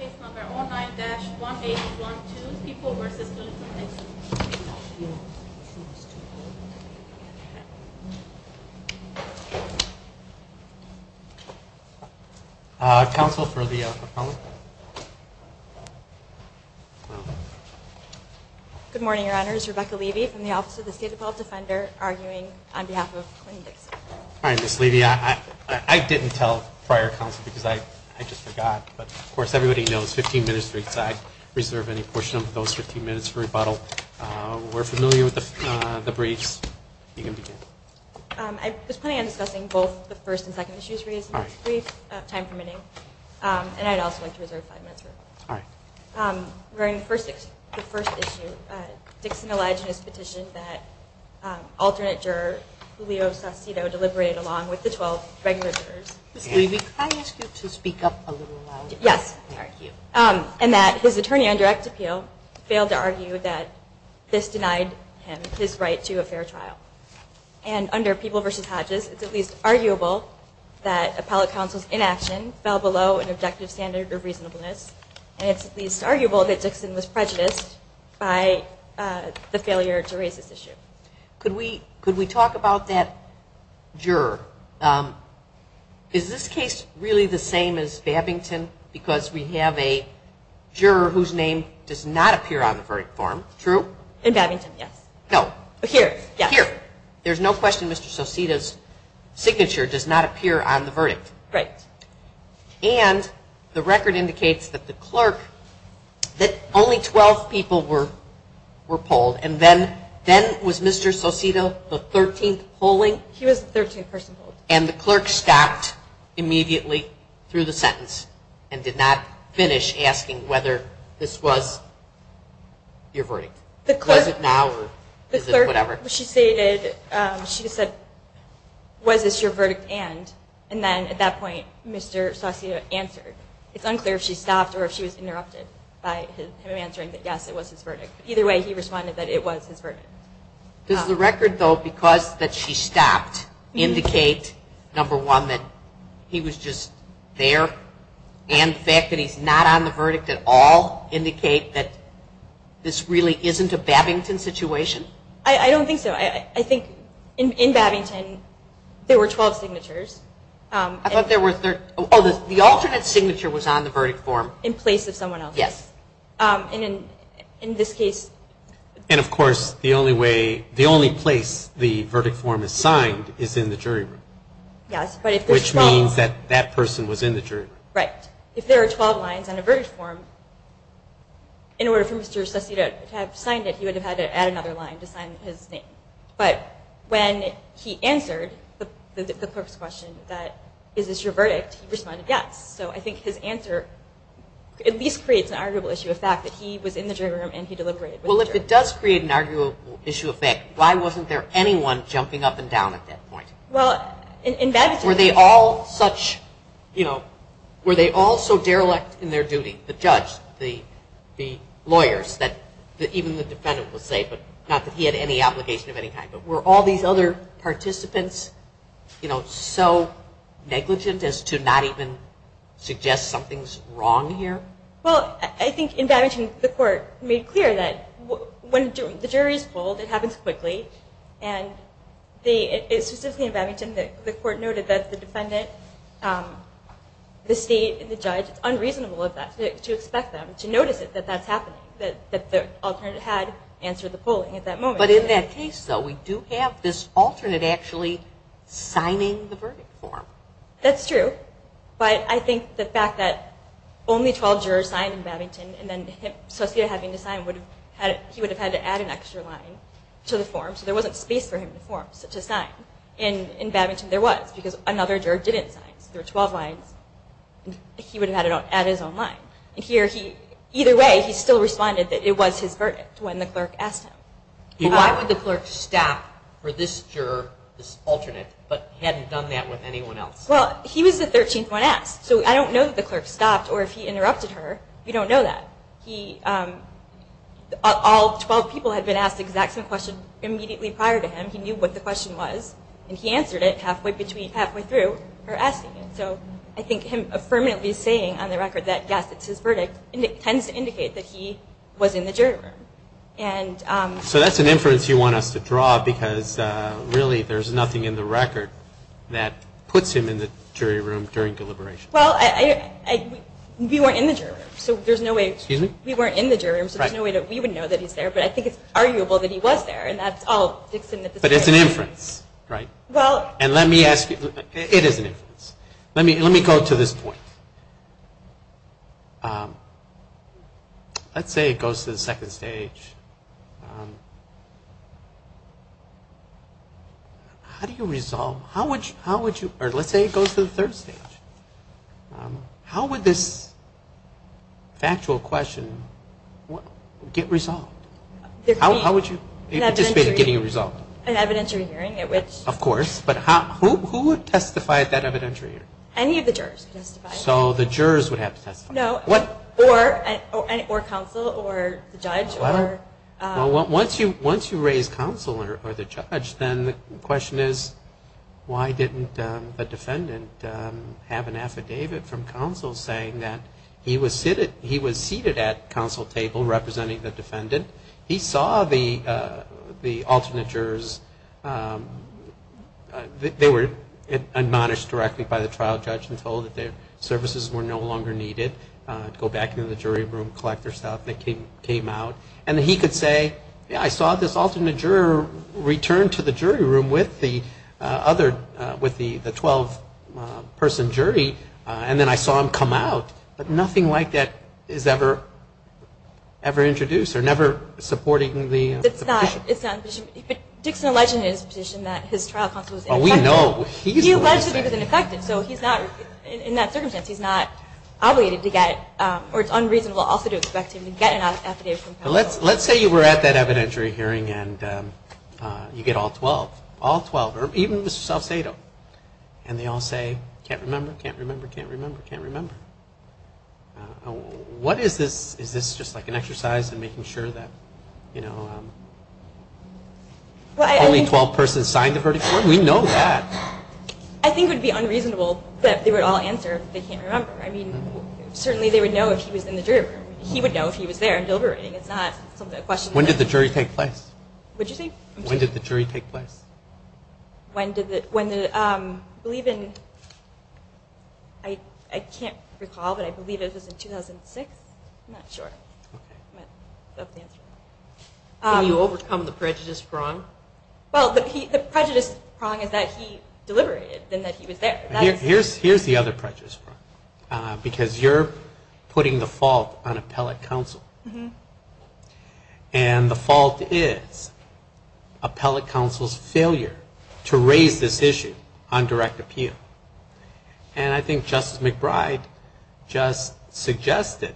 9-1812, People v. Bill Clinton, Dixon. Council, for the proponent. Good morning, Your Honors. Rebecca Levy from the Office of the State Department Defender, arguing on behalf of Clinton Dixon. All right, Ms. Levy, I didn't tell prior counsel because I just forgot, but of course everybody knows 15 minutes for each side. Reserve any portion of those 15 minutes for rebuttal. We're familiar with the briefs. You can begin. I was planning on discussing both the first and second issues raised in this brief, time permitting, and I'd also like to reserve five minutes for rebuttal. During the first issue, Dixon alleged in his petition that alternate juror, Julio Saucedo, deliberated along with the 12 regular jurors. Ms. Levy, can I ask you to speak up a little louder? Yes. And that his attorney on direct appeal failed to argue that this denied him his right to a fair trial. And under People v. Hodges, it's at least arguable that appellate counsel's inaction fell below an objective standard of reasonableness. And it's at least arguable that Dixon was prejudiced by the failure to raise this issue. Could we talk about that juror? Is this case really the same as Babington? Because we have a juror whose name does not appear on the verdict form. True? In Babington, yes. No. Here, yes. Here. There's no question Mr. Saucedo's signature does not appear on the verdict. Right. And the record indicates that the clerk, that only 12 people were polled, and then was Mr. Saucedo the 13th polling? He was the 13th person polled. And the clerk stopped immediately through the sentence and did not finish asking whether this was your verdict. Was it now or is it whatever? The clerk, she stated, she said, was this your verdict and, and then at that point Mr. Saucedo answered. It's unclear if she stopped or if she was interrupted by him answering that yes, it was his verdict. Either way, he responded that it was his verdict. Does the record, though, because that she stopped indicate, number one, that he was just there? And the fact that he's not on the verdict at all indicate that this really isn't a Babington situation? I don't think so. I think in Babington there were 12 signatures. I thought there were, oh, the alternate signature was on the verdict form. In place of someone else's. Yes. In this case. And, of course, the only way, the only place the verdict form is signed is in the jury room. Yes, but if there's 12. Which means that that person was in the jury room. Right. If there are 12 lines on a verdict form, in order for Mr. Saucedo to have signed it, he would have had to add another line to sign his name. But when he answered the clerk's question that, is this your verdict, he responded yes. So I think his answer at least creates an arguable issue of fact that he was in the jury room and he deliberated. Well, if it does create an arguable issue of fact, why wasn't there anyone jumping up and down at that point? Well, in Babington. Were they all such, you know, were they all so derelict in their duty, the judge, the lawyers, that even the defendant was safe, not that he had any obligation of any kind, were all these other participants, you know, so negligent as to not even suggest something's wrong here? Well, I think in Babington, the court made clear that when the jury's polled, it happens quickly, and it's just in Babington that the court noted that the defendant, the state, and the judge, it's unreasonable of that to expect them to notice that that's happening, that the alternate had answered the polling at that moment. But in that case, though, we do have this alternate actually signing the verdict form. That's true, but I think the fact that only 12 jurors signed in Babington, and then his associate having to sign, he would have had to add an extra line to the form, so there wasn't space for him to sign. In Babington, there was, because another juror didn't sign, so there were 12 lines. He would have had to add his own line. Either way, he still responded that it was his verdict when the clerk asked him. Why would the clerk stop for this juror, this alternate, but hadn't done that with anyone else? Well, he was the 13th one asked, so I don't know that the clerk stopped, or if he interrupted her. We don't know that. All 12 people had been asked the exact same question immediately prior to him. He knew what the question was, and he answered it halfway through her asking it. So I think him affirmatively saying on the record that, yes, it's his verdict, tends to indicate that he was in the jury room. So that's an inference you want us to draw, because really there's nothing in the record that puts him in the jury room during deliberation. Well, we weren't in the jury room, so there's no way that we would know that he's there, but I think it's arguable that he was there, and that's all Dixon at this point. But it's an inference, right? And let me ask you, it is an inference. Let me go to this point. Let's say it goes to the second stage. How do you resolve, how would you, or let's say it goes to the third stage. How would this factual question get resolved? How would you anticipate it getting resolved? An evidentiary hearing at which. Of course, but who would testify at that evidentiary hearing? Any of the jurors could testify. So the jurors would have to testify. No, or counsel or the judge or. Well, once you raise counsel or the judge, then the question is, why didn't the defendant have an affidavit from counsel saying that he was seated at counsel table representing the defendant. He saw the alternate jurors. They were admonished directly by the trial judge and told that their services were no longer needed. Go back into the jury room, collect their stuff, and they came out. And he could say, yeah, I saw this alternate juror return to the jury room with the other, with the 12-person jury, and then I saw him come out. But nothing like that is ever introduced or never supported in the petition. It's not. Dixon alleged in his petition that his trial counsel was ineffective. Well, we know. He alleged that he was ineffective. So he's not, in that circumstance, he's not obligated to get, or it's unreasonable also to expect him to get an affidavit from counsel. Let's say you were at that evidentiary hearing and you get all 12, all 12, or even Mr. Salcedo, and they all say, can't remember, can't remember, can't remember, can't remember. What is this? Is this just like an exercise in making sure that, you know, only 12 persons signed the verdict? We know that. I think it would be unreasonable that they would all answer they can't remember. I mean, certainly they would know if he was in the jury room. He would know if he was there and deliberating. It's not something to question. When did the jury take place? What did you say? When did the jury take place? I can't recall, but I believe it was in 2006. I'm not sure. Can you overcome the prejudice prong? Well, the prejudice prong is that he deliberated and that he was there. Here's the other prejudice prong, because you're putting the fault on appellate counsel. And the fault is appellate counsel's failure to raise this issue on direct appeal. And I think Justice McBride just suggested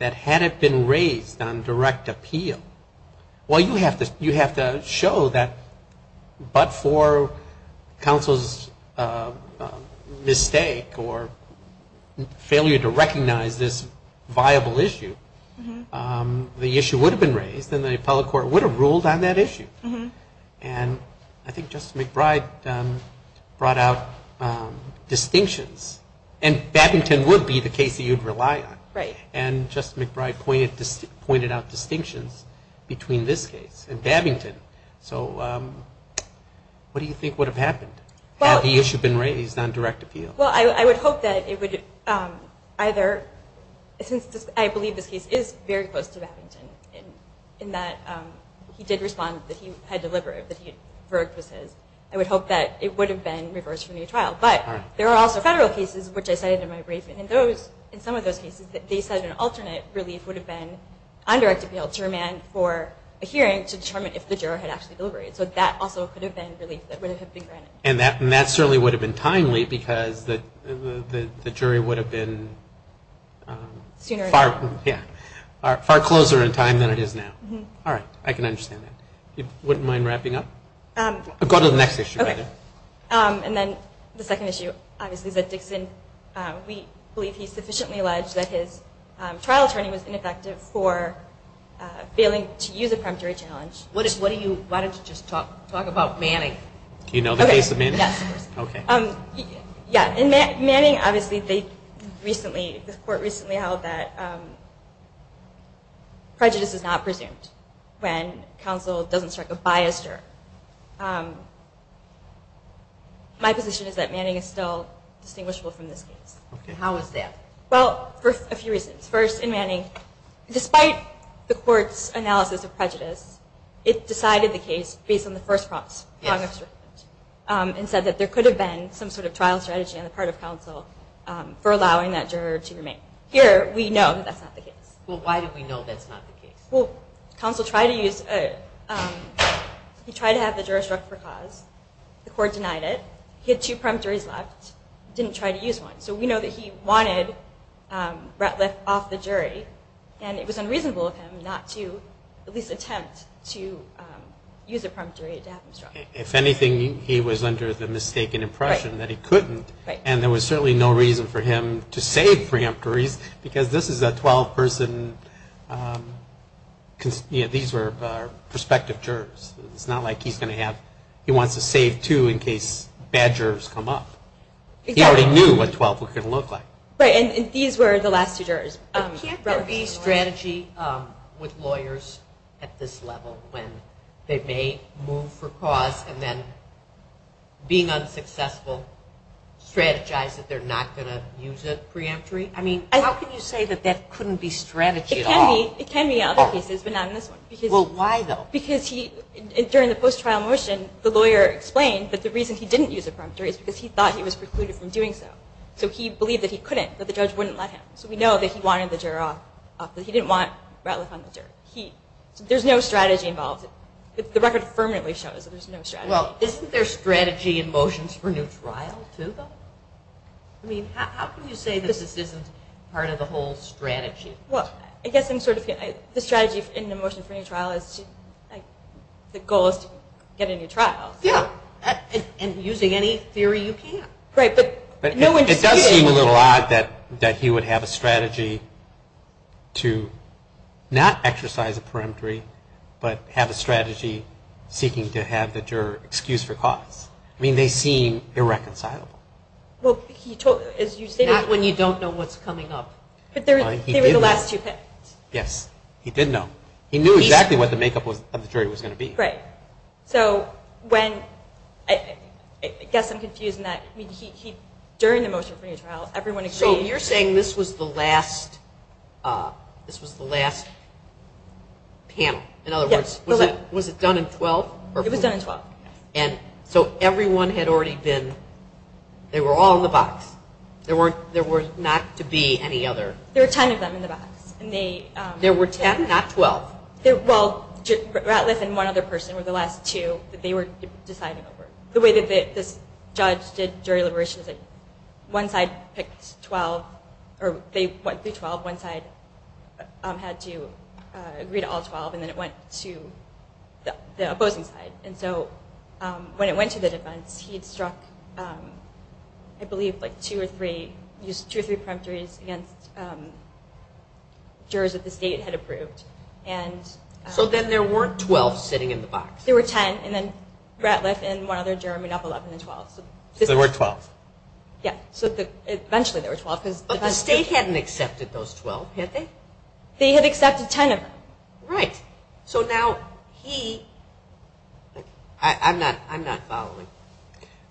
that had it been raised on direct appeal, well, you have to show that but for counsel's mistake or failure to raise it, the issue would have been raised and the appellate court would have ruled on that issue. And I think Justice McBride brought out distinctions. And Babington would be the case that you'd rely on. And Justice McBride pointed out distinctions between this case and Babington. So what do you think would have happened had the issue been raised on direct appeal? Well, I would hope that it would either, since I believe this case is very close to Babington in that he did respond that he had deliberated, that he had verged with his, I would hope that it would have been reversed from the trial. But there are also federal cases, which I cited in my brief, and in some of those cases they said an alternate relief would have been on direct appeal to remand for a hearing to determine if the juror had actually deliberated. So that also could have been relief that would have been granted. And that certainly would have been timely, because the jury would have been far closer in time than it is now. All right. I can understand that. You wouldn't mind wrapping up? Go to the next issue. Okay. And then the second issue, obviously, is that Dickson, we believe he sufficiently alleged that his trial attorney was ineffective for failing to use a preemptory challenge. Why don't you just talk about Manning? Okay. Do you know the case of Manning? Yes, of course. Okay. Yeah. In Manning, obviously, the court recently held that prejudice is not presumed when counsel doesn't strike a biased juror. My position is that Manning is still distinguishable from this case. Okay. How is that? Well, for a few reasons. First, in Manning, despite the court's analysis of prejudice, it decided the case based on the first prompts, and said that there could have been some sort of trial strategy on the part of counsel for allowing that juror to remain. Here, we know that's not the case. Well, why do we know that's not the case? Well, counsel tried to have the juror struck for cause. The court denied it. He had two preemptories left, didn't try to use one. So we know that he wanted Ratliff off the jury, and it was unreasonable of him not to at least attempt to use a preemptory to have him struck. If anything, he was under the mistaken impression that he couldn't, and there was certainly no reason for him to save preemptories, because this is a 12-person, these were prospective jurors. It's not like he's going to have, he wants to save two in case bad jurors come up. Exactly. He already knew what 12 could look like. Right, and these were the last two jurors. Can't there be strategy with lawyers at this level when they may move for cause and then being unsuccessful strategize that they're not going to use a preemptory? I mean, how can you say that that couldn't be strategy at all? It can be in other cases, but not in this one. Well, why though? Because during the post-trial motion, the lawyer explained that the reason he didn't use a preemptory is because he thought he was precluded from doing so. So he believed that he couldn't, that the judge wouldn't let him. So we know that he wanted the juror up, but he didn't want Ratliff on the jury. There's no strategy involved. The record permanently shows that there's no strategy. Well, isn't there strategy in motions for new trial too, though? I mean, how can you say that this isn't part of the whole strategy? Well, I guess I'm sort of, the strategy in the motion for new trial is, the goal is to get a new trial. Yeah, and using any theory you can. It does seem a little odd that he would have a strategy to not exercise a preemptory, but have a strategy seeking to have the juror excused for cause. I mean, they seem irreconcilable. Not when you don't know what's coming up. But they were the last two picked. Yes, he did know. He knew exactly what the makeup of the jury was going to be. Right. So when, I guess I'm confused in that, during the motion for new trial, everyone agreed. So you're saying this was the last panel. Yes. In other words, was it done in 12? It was done in 12. And so everyone had already been, they were all in the box. There were not to be any other. There were 10 of them in the box. There were 10, not 12? Well, Ratliff and one other person were the last two that they were deciding over. The way that this judge did jury liberation is that one side picked 12, or they went through 12, one side had to agree to all 12, and then it went to the opposing side. And so when it went to the defense, he had struck, I believe, like two or three, used two or three preemptories against jurors that the were 12 sitting in the box. There were 10. And then Ratliff and one other juror made up 11 and 12. So there were 12. Yes. So eventually there were 12. But the state hadn't accepted those 12, had they? They had accepted 10 of them. Right. So now he, I'm not following.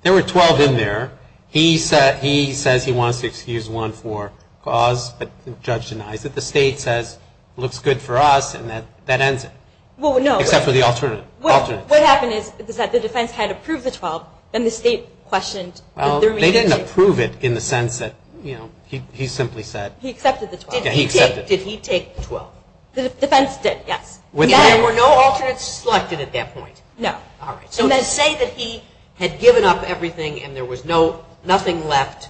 There were 12 in there. He says he wants to excuse one for cause, but the judge denies it. The state says, looks good for us, and that ends it. Well, no. Except for the alternate. What happened is that the defense had approved the 12, and the state questioned. They didn't approve it in the sense that, you know, he simply said. He accepted the 12. He accepted. Did he take 12? The defense did, yes. There were no alternates selected at that point? No. All right. So to say that he had given up everything and there was nothing left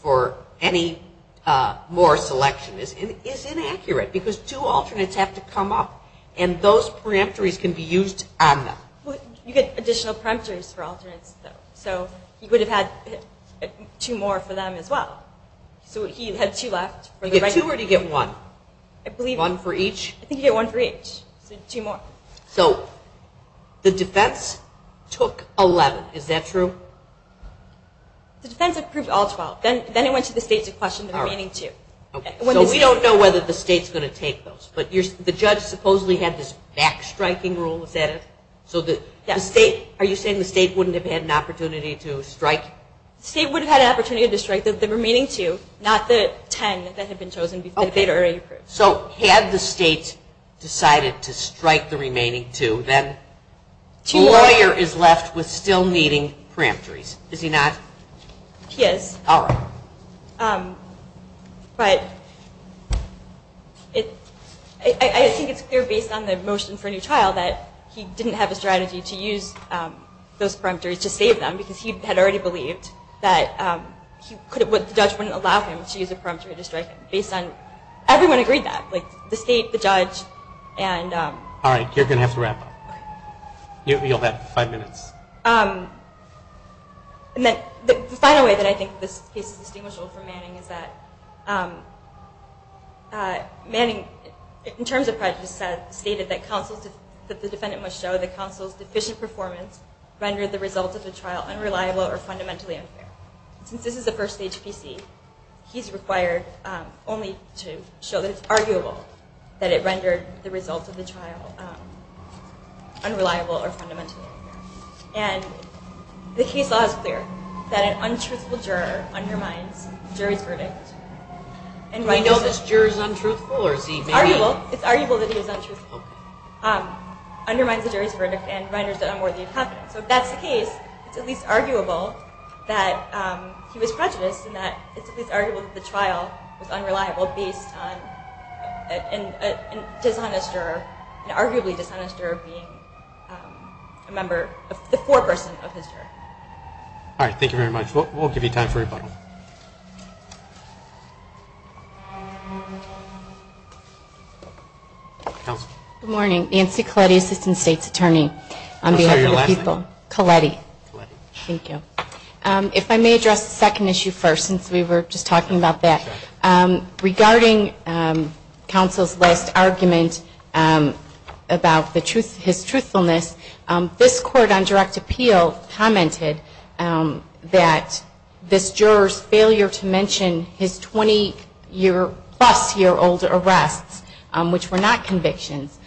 for any more selection is inaccurate because two alternates have to come up, and those peremptories can be used on them. You get additional peremptories for alternates, though. So he would have had two more for them as well. So he had two left. You get two or do you get one? I believe. One for each? I think you get one for each, so two more. So the defense took 11. Is that true? The defense approved all 12. Then it went to the state to question the remaining two. So we don't know whether the state's going to take those, but the judge supposedly had this backstriking rule. Is that it? Yes. Are you saying the state wouldn't have had an opportunity to strike? The state would have had an opportunity to strike the remaining two, not the ten that had been chosen before the state already approved. So had the state decided to strike the remaining two, then the lawyer is left with still needing peremptories, is he not? He is. All right. But I think it's clear based on the motion for a new trial that he didn't have a strategy to use those peremptories to save them because he had already believed that the judge wouldn't allow him to use a peremptory to strike them. Everyone agreed that, like the state, the judge. All right, you're going to have to wrap up. You'll have five minutes. The final way that I think this case is distinguishable from Manning is that Manning, in terms of prejudice, stated that the defendant must show that counsel's deficient performance rendered the result of the trial unreliable or fundamentally unfair. Since this is a first-stage PC, he's required only to show that it's arguable that it rendered the result of the trial unreliable or fundamentally unfair. And the case law is clear that an untruthful juror undermines the jury's verdict. Do we know this juror is untruthful? It's arguable that he is untruthful. It undermines the jury's verdict and renders it unworthy of confidence. So if that's the case, it's at least arguable that he was prejudiced and that it's at least arguable that the trial was unreliable based on an arguably dishonest juror being the foreperson of his juror. All right, thank you very much. We'll give you time for rebuttal. Good morning. Nancy Colletti, Assistant State's Attorney. I'm sorry, your last name? Colletti. Thank you. If I may address the second issue first, since we were just talking about that. Regarding counsel's last argument about his truthfulness, this Court on Direct Appeal commented that this juror's failure to mention his 20-plus-year-old arrests, which were not convictions,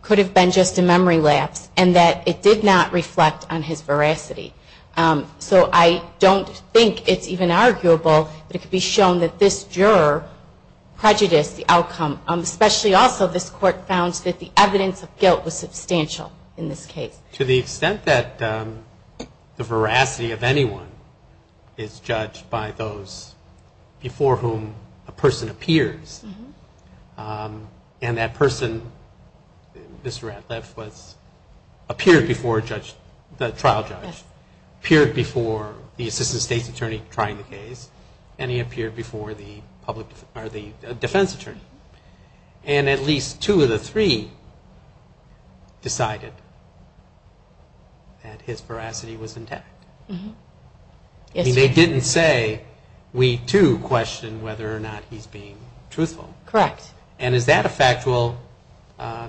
could have been just a memory lapse and that it did not reflect on his veracity. So I don't think it's even arguable that it could be shown that this juror prejudiced the outcome. Especially also, this Court found that the evidence of guilt was substantial in this case. To the extent that the veracity of anyone is judged by those before whom a person appeared before the Assistant State's Attorney trying the case, and he appeared before the defense attorney. And at least two of the three decided that his veracity was intact. They didn't say, we too question whether or not he's being truthful. Correct. And is that a factual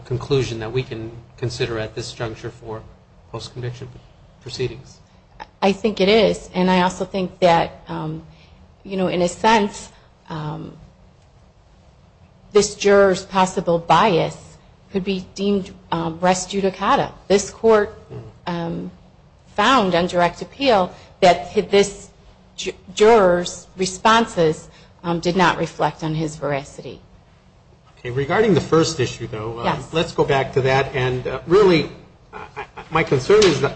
conclusion that we can consider at this juncture for post-conviction proceedings? I think it is. And I also think that, you know, in a sense, this juror's possible bias could be deemed res judicata. This Court found on direct appeal that this juror's responses did not reflect on his veracity. Regarding the first issue, though, let's go back to that. And really, my concern is the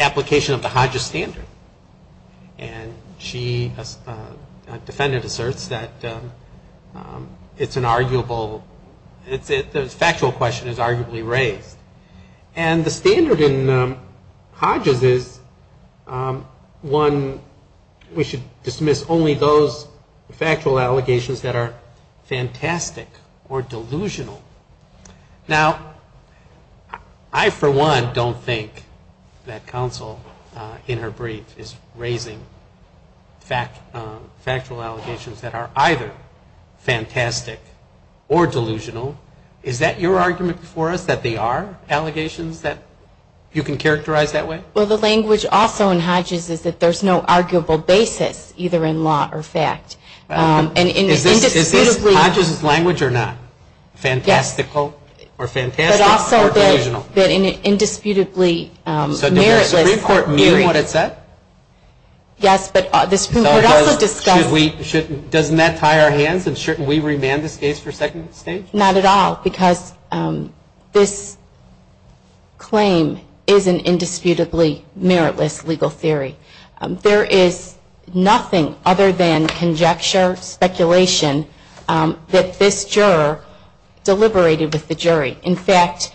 application of the Hodges standard. And she, a defendant, asserts that it's an arguable, the factual question is arguably raised. And the standard in Hodges is, one, we should dismiss only those factual allegations that are fantastic or delusional. Now, I, for one, don't think that counsel, in her brief, is raising factual allegations that are either fantastic or delusional. Is that your argument before us, that they are allegations that you can characterize that way? Well, the language also in Hodges is that there's no arguable basis, either in law or fact. Is this Hodges' language or not? Fantastical or fantastic or delusional? But also that in an indisputably meritless view. So did the Supreme Court mean what it said? Yes, but the Supreme Court also discussed. Doesn't that tie our hands and shouldn't we remand this case for second stage? Not at all, because this claim is an indisputably meritless legal theory. There is nothing other than conjecture, speculation, that this juror deliberated with the jury. In fact,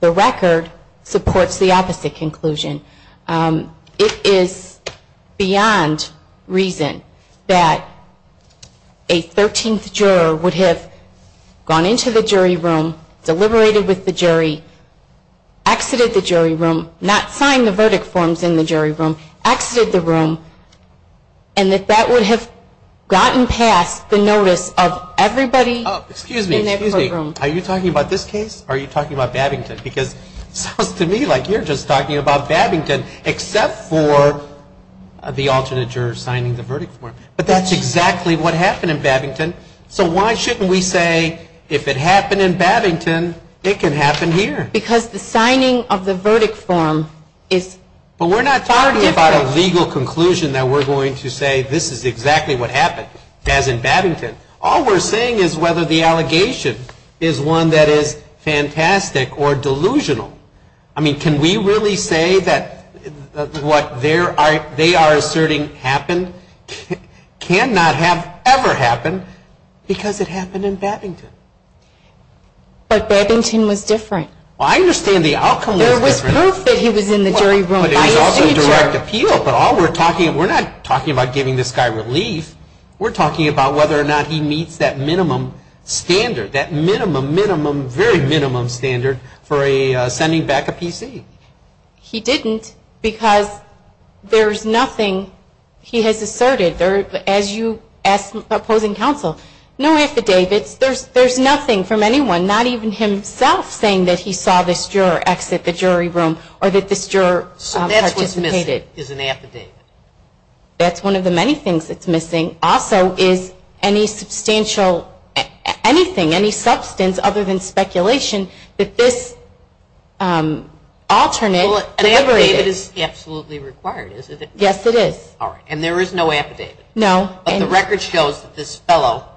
the record supports the opposite conclusion. It is beyond reason that a 13th juror would have gone into the jury room, deliberated with the jury, exited the jury room, not sign the verdict forms in the jury room, exited the room, and that that would have gotten past the notice of everybody in that room. Excuse me. Are you talking about this case or are you talking about Babington? Because it sounds to me like you're just talking about Babington, except for the alternate juror signing the verdict form. But that's exactly what happened in Babington. So why shouldn't we say if it happened in Babington, it can happen here? Because the signing of the verdict form is far different. But we're not talking about a legal conclusion that we're going to say this is exactly what happened, as in Babington. All we're saying is whether the allegation is one that is fantastic or delusional. I mean, can we really say that what they are asserting happened cannot have ever happened because it happened in Babington? But Babington was different. Well, I understand the outcome was different. There was proof that he was in the jury room. But it was also direct appeal. But all we're talking about, we're not talking about giving this guy relief. We're talking about whether or not he meets that minimum standard, that minimum, minimum, very minimum standard for sending back a PC. He didn't because there's nothing he has asserted. As you asked the opposing counsel, no affidavits. There's nothing from anyone, not even himself, saying that he saw this juror exit the jury room or that this juror participated. So that's what's missing is an affidavit. That's one of the many things that's missing. Also is any substantial, anything, any substance other than speculation that this alternate. Well, an affidavit is absolutely required, isn't it? Yes, it is. And there is no affidavit. No. But the record shows that this fellow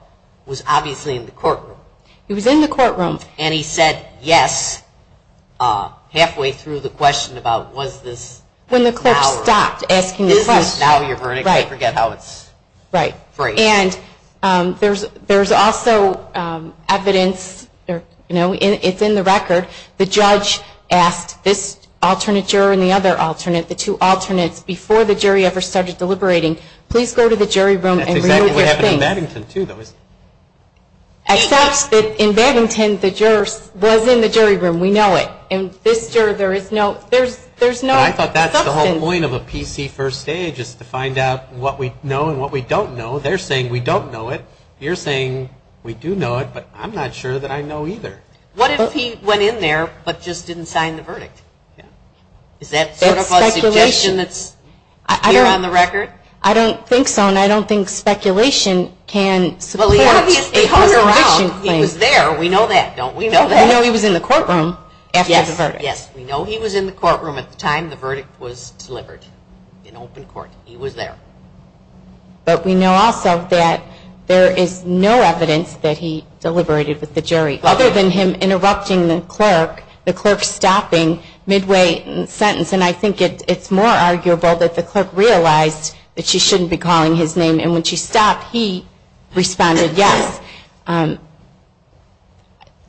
was obviously in the courtroom. He was in the courtroom. And he said yes halfway through the question about was this. When the clerk stopped asking the question. Is this now your verdict? Right. I forget how it's phrased. Right. And there's also evidence, you know, it's in the record. The judge asked this alternate juror and the other alternate, the two alternates, before the jury ever started deliberating, please go to the jury room. That's exactly what happened in Baddington, too, though, isn't it? Except that in Baddington the juror was in the jury room. We know it. In this juror there is no substance. I thought that's the whole point of a PC first stage is to find out what we know and what we don't know. They're saying we don't know it. You're saying we do know it, but I'm not sure that I know either. What if he went in there but just didn't sign the verdict? Yeah. Is that sort of a suggestion that's here on the record? I don't think so, and I don't think speculation can support a conviction claim. Well, he obviously hung around. He was there. We know that. Don't we know that? We know he was in the courtroom after the verdict. Yes. Yes. We know he was in the courtroom at the time the verdict was delivered in open court. He was there. But we know also that there is no evidence that he deliberated with the jury, other than him interrupting the clerk, the clerk stopping midway in the sentence. And I think it's more arguable that the clerk realized that she shouldn't be calling his name. And when she stopped, he responded yes.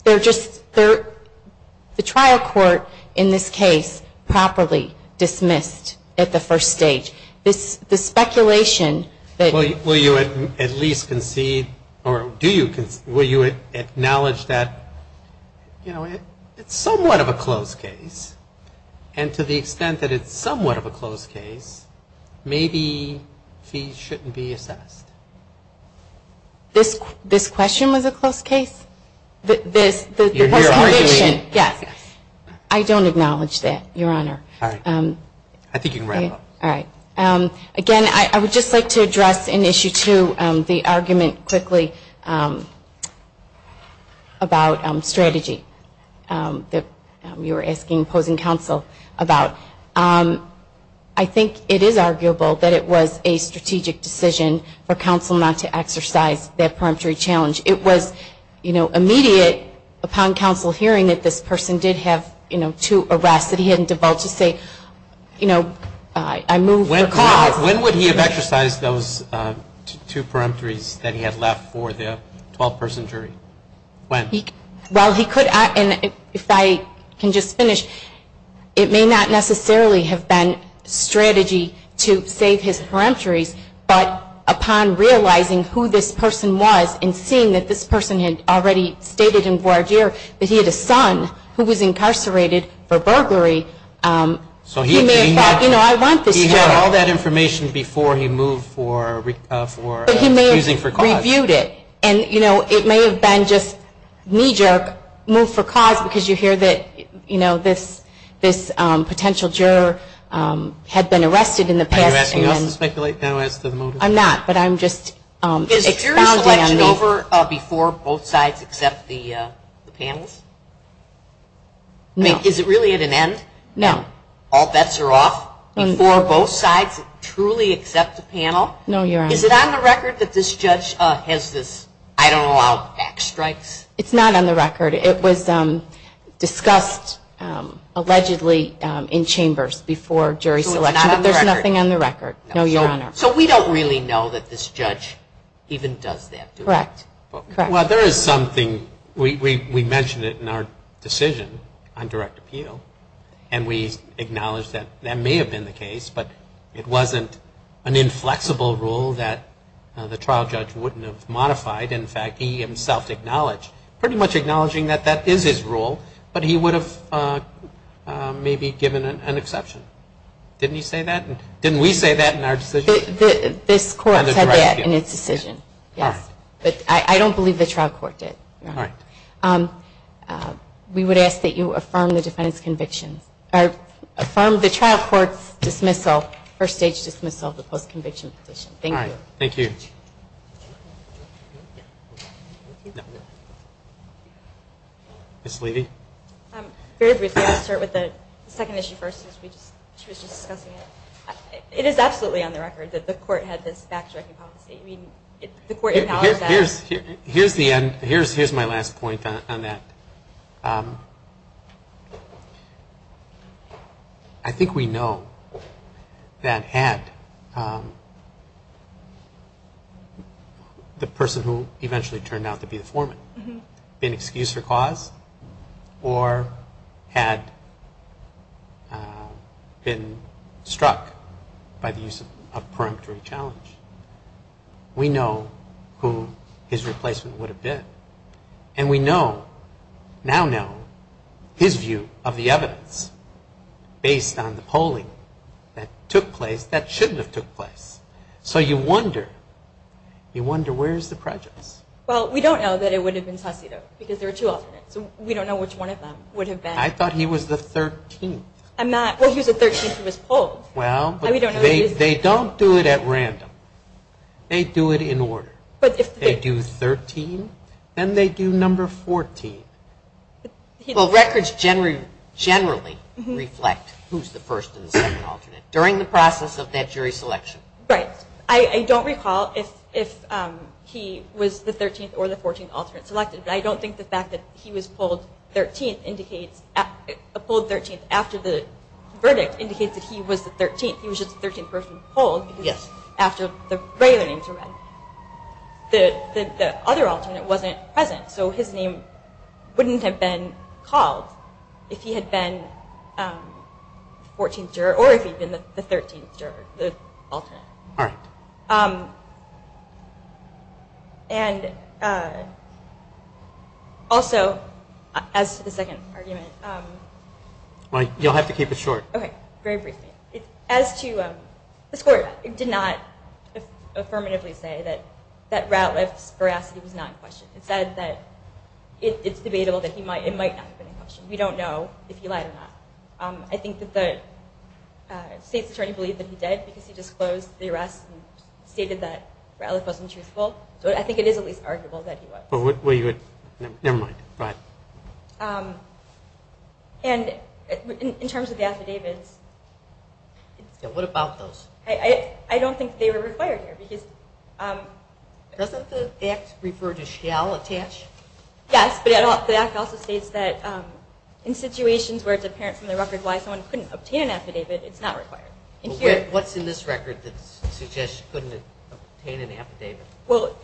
They're just the trial court in this case properly dismissed at the first stage. Will you at least concede or will you acknowledge that, you know, it's somewhat of a close case, and to the extent that it's somewhat of a close case, maybe he shouldn't be assessed? This question was a close case? Your mere argument. Yes. I don't acknowledge that, Your Honor. All right. I think you can wrap it up. All right. Again, I would just like to address an issue, too, the argument quickly about strategy that you were asking opposing counsel about. I think it is arguable that it was a strategic decision for counsel not to exercise that peremptory challenge. It was, you know, immediate upon counsel hearing that this person did have, you know, two arrests, that he hadn't devolved to say, you know, I move for cause. When would he have exercised those two peremptories that he had left for the 12-person jury? When? Well, he could, and if I can just finish, it may not necessarily have been strategy to save his peremptories, but upon realizing who this person was and seeing that this person had already stated in voir dire that he had a son who was incarcerated for burglary, he may have thought, you know, I want this one. He had all that information before he moved for refusing for cause. But he may have reviewed it, and, you know, it may have been just knee-jerk, move for cause, because you hear that, you know, this potential juror had been arrested in the past. Are you asking us to speculate now as to the motive? Is jury selection over before both sides accept the panels? No. Is it really at an end? No. All bets are off before both sides truly accept the panel? No, Your Honor. Is it on the record that this judge has this, I don't know how, backstrikes? It's not on the record. It was discussed allegedly in chambers before jury selection. So it's not on the record. But there's nothing on the record. No, Your Honor. So we don't really know that this judge even does that, do we? Correct. Well, there is something, we mentioned it in our decision on direct appeal, and we acknowledge that that may have been the case, but it wasn't an inflexible rule that the trial judge wouldn't have modified. In fact, he himself acknowledged, pretty much acknowledging that that is his rule, but he would have maybe given an exception. Didn't you say that? Didn't we say that in our decision? This Court said that in its decision, yes. But I don't believe the trial court did, Your Honor. All right. We would ask that you affirm the defendant's conviction, or affirm the trial court's dismissal, first-stage dismissal of the post-conviction petition. Thank you. All right. Thank you. Ms. Levy. Very briefly, I'll start with the second issue first, since she was just discussing it. It is absolutely on the record that the Court had this backtracking policy. I mean, the Court acknowledged that. Here's the end. Here's my last point on that. I think we know that had the person who eventually turned out to be the foreman been excused for cause or had been struck by the use of a preemptory challenge, we know who his replacement would have been. And we know, now know, his view of the evidence based on the polling that took place that shouldn't have took place. So you wonder, you wonder where is the prejudice? Well, we don't know that it would have been Tosito because there are two alternates. We don't know which one of them would have been. I thought he was the 13th. Well, he was the 13th who was polled. Well, they don't do it at random. They do it in order. They do 13, then they do number 14. Well, records generally reflect who's the first and the second alternate during the process of that jury selection. Right. I don't recall if he was the 13th or the 14th alternate selected, but I don't think the fact that he was polled 13th indicates, polled 13th after the verdict indicates that he was the 13th. He was just the 13th person polled after the regular names were read. The other alternate wasn't present, so his name wouldn't have been called if he had been 14th juror or if he had been the 13th juror, the alternate. All right. And also, as to the second argument. You'll have to keep it short. Okay, very briefly. As to the score, it did not affirmatively say that Ratliff's veracity was not in question. It said that it's debatable that it might not have been in question. We don't know if he lied or not. I think that the state's attorney believed that he did because he disclosed the arrest and stated that Ratliff wasn't truthful. So I think it is at least arguable that he was. Well, never mind. Go ahead. And in terms of the affidavits. Yeah, what about those? I don't think they were required here. Doesn't the Act refer to shall attach? Yes, but the Act also states that in situations where it's apparent from the record why someone couldn't obtain an affidavit, it's not required. What's in this record that suggests you couldn't obtain an affidavit? Well,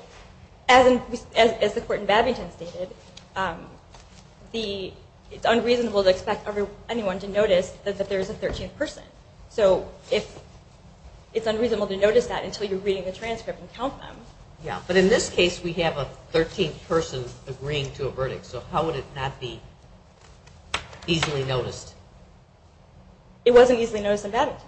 as the court in Babington stated, it's unreasonable to expect anyone to notice that there is a 13th person. So it's unreasonable to notice that until you're reading the transcript and count them. Yeah, but in this case we have a 13th person agreeing to a verdict, so how would it not be easily noticed? It wasn't easily noticed in Babington.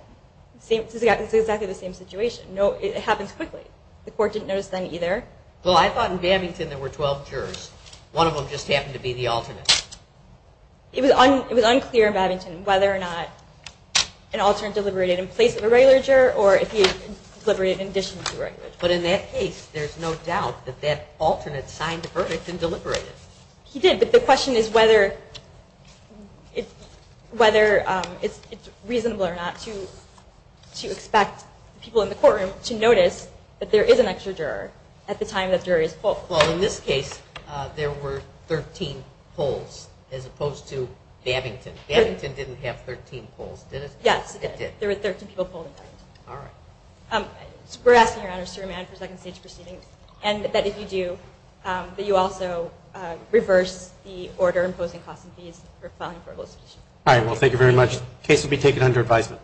It's exactly the same situation. It happens quickly. The court didn't notice then either. Well, I thought in Babington there were 12 jurors. One of them just happened to be the alternate. It was unclear in Babington whether or not an alternate deliberated in place of a regular juror or if he deliberated in addition to a regular juror. But in that case, there's no doubt that that alternate signed the verdict and deliberated. He did, but the question is whether it's reasonable or not to expect people in the courtroom to notice that there is an extra juror at the time that jury is pulled. Well, in this case, there were 13 pulls as opposed to Babington. Babington didn't have 13 pulls, did it? Yes, it did. There were 13 people pulled in Babington. All right. We're asking, Your Honor, to remand for second-stage proceedings, and that if you do, that you also reverse the order imposing costs and fees for filing for elicitation. All right, well, thank you very much. The case will be taken under advisement.